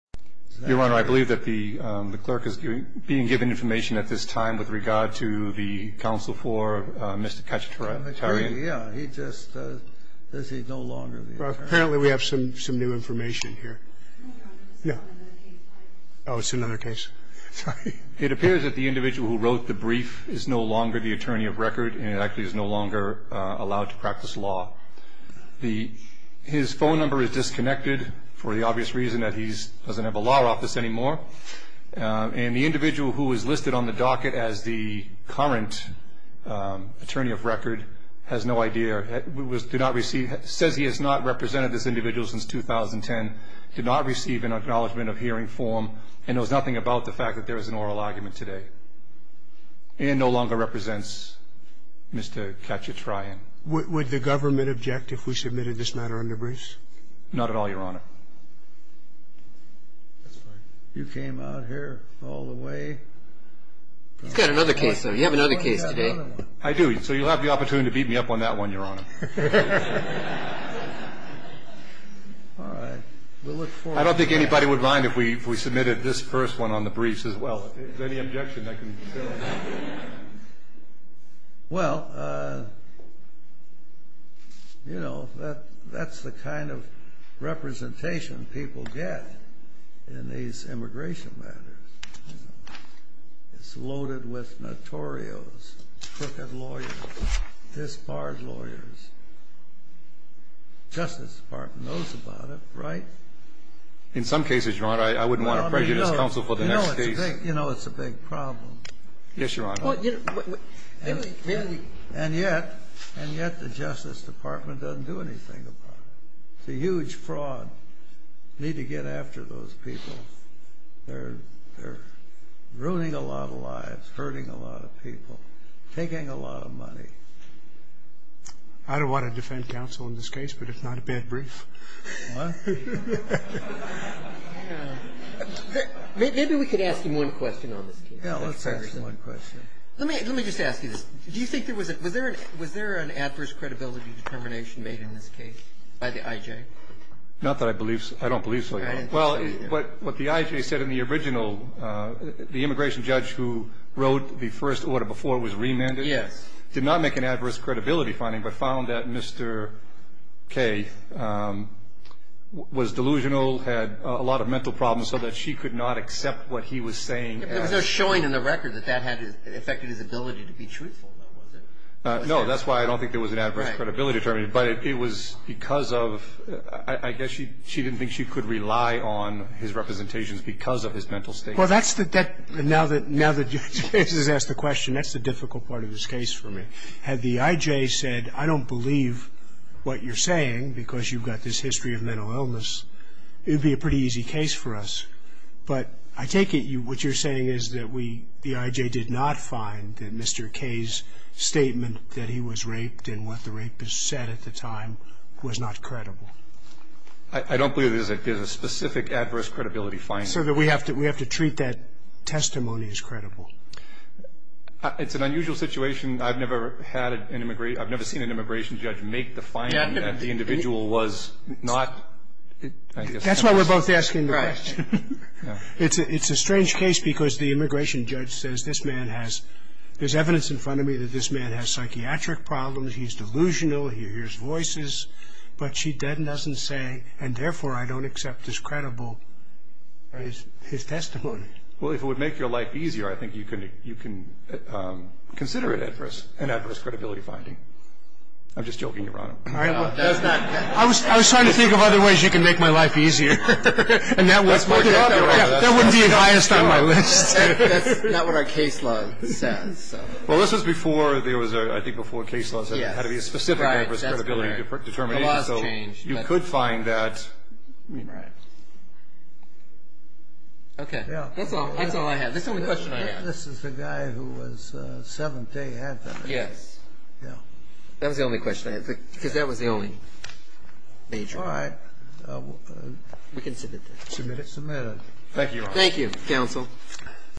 Your Honor, I believe that the clerk is being given information at this time with regard to the counsel for Mr. Kachatryan. Yeah, he just says he's no longer the attorney. Apparently we have some new information here. Yeah. Oh, it's another case. Sorry. It appears that the individual who wrote the brief is no longer the attorney of record and actually is no longer allowed to practice law. His phone number is disconnected for the obvious reason that he doesn't have a law office anymore. And the individual who is listed on the docket as the current attorney of record has no idea, says he has not represented this individual since 2010, did not receive an acknowledgement of hearing form, and knows nothing about the fact that there is an oral argument today and no longer represents Mr. Kachatryan. Would the government object if we submitted this matter on the briefs? Not at all, Your Honor. That's fine. You came out here all the way. He's got another case, though. You have another case today. I do. So you'll have the opportunity to beat me up on that one, Your Honor. All right. We'll look forward to it. I don't think anybody would mind if we submitted this first one on the briefs as well. Is there any objection that can be settled? Well, you know, that's the kind of representation people get in these immigration matters. It's loaded with notorios, crooked lawyers, disbarred lawyers. Justice Department knows about it, right? In some cases, Your Honor, I wouldn't want to prejudice counsel for the next case. I think, you know, it's a big problem. Yes, Your Honor. And yet the Justice Department doesn't do anything about it. It's a huge fraud. Need to get after those people. They're ruining a lot of lives, hurting a lot of people, taking a lot of money. I don't want to defend counsel in this case, but it's not a bad brief. What? Maybe we could ask him one question on this case. Let's ask him one question. Let me just ask you this. Do you think there was a – was there an adverse credibility determination made in this case by the I.J.? Not that I believe so. I don't believe so, Your Honor. Well, what the I.J. said in the original, the immigration judge who wrote the first order before was remanded. Yes. The I.J. did not make an adverse credibility finding, but found that Mr. K. was delusional, had a lot of mental problems, so that she could not accept what he was saying as – There was no showing in the record that that had affected his ability to be truthful, though, was it? No. That's why I don't think there was an adverse credibility determination. Right. But it was because of – I guess she didn't think she could rely on his representations because of his mental state. Well, that's the – now that – now that the judge has asked the question, that's the difficult part of this case for me. Had the I.J. said, I don't believe what you're saying because you've got this history of mental illness, it would be a pretty easy case for us. But I take it what you're saying is that we – the I.J. did not find that Mr. K.'s statement that he was raped and what the rapist said at the time was not credible. I don't believe there's a specific adverse credibility finding. So that we have to – we have to treat that testimony as credible. It's an unusual situation. I've never had an – I've never seen an immigration judge make the finding that the individual was not – That's why we're both asking the question. Right. It's a strange case because the immigration judge says this man has – there's evidence in front of me that this man has psychiatric problems, he's delusional, he hears voices, but she doesn't say, and therefore I don't accept as credible his testimony. Well, if it would make your life easier, I think you can consider it adverse, an adverse credibility finding. I'm just joking, Your Honor. I was trying to think of other ways you can make my life easier. That's my job, Your Honor. That would be highest on my list. That's not what our case law says. Well, this was before there was a – I think before case laws had to be a specific adverse credibility determination, so you could find that. You're right. Okay. That's all I have. That's the only question I have. This is the guy who was 7th day advertising. Yes. That was the only question I had because that was the only major. All right. We can submit this. Submit it. Submit it. Thank you, Your Honor. Thank you, counsel.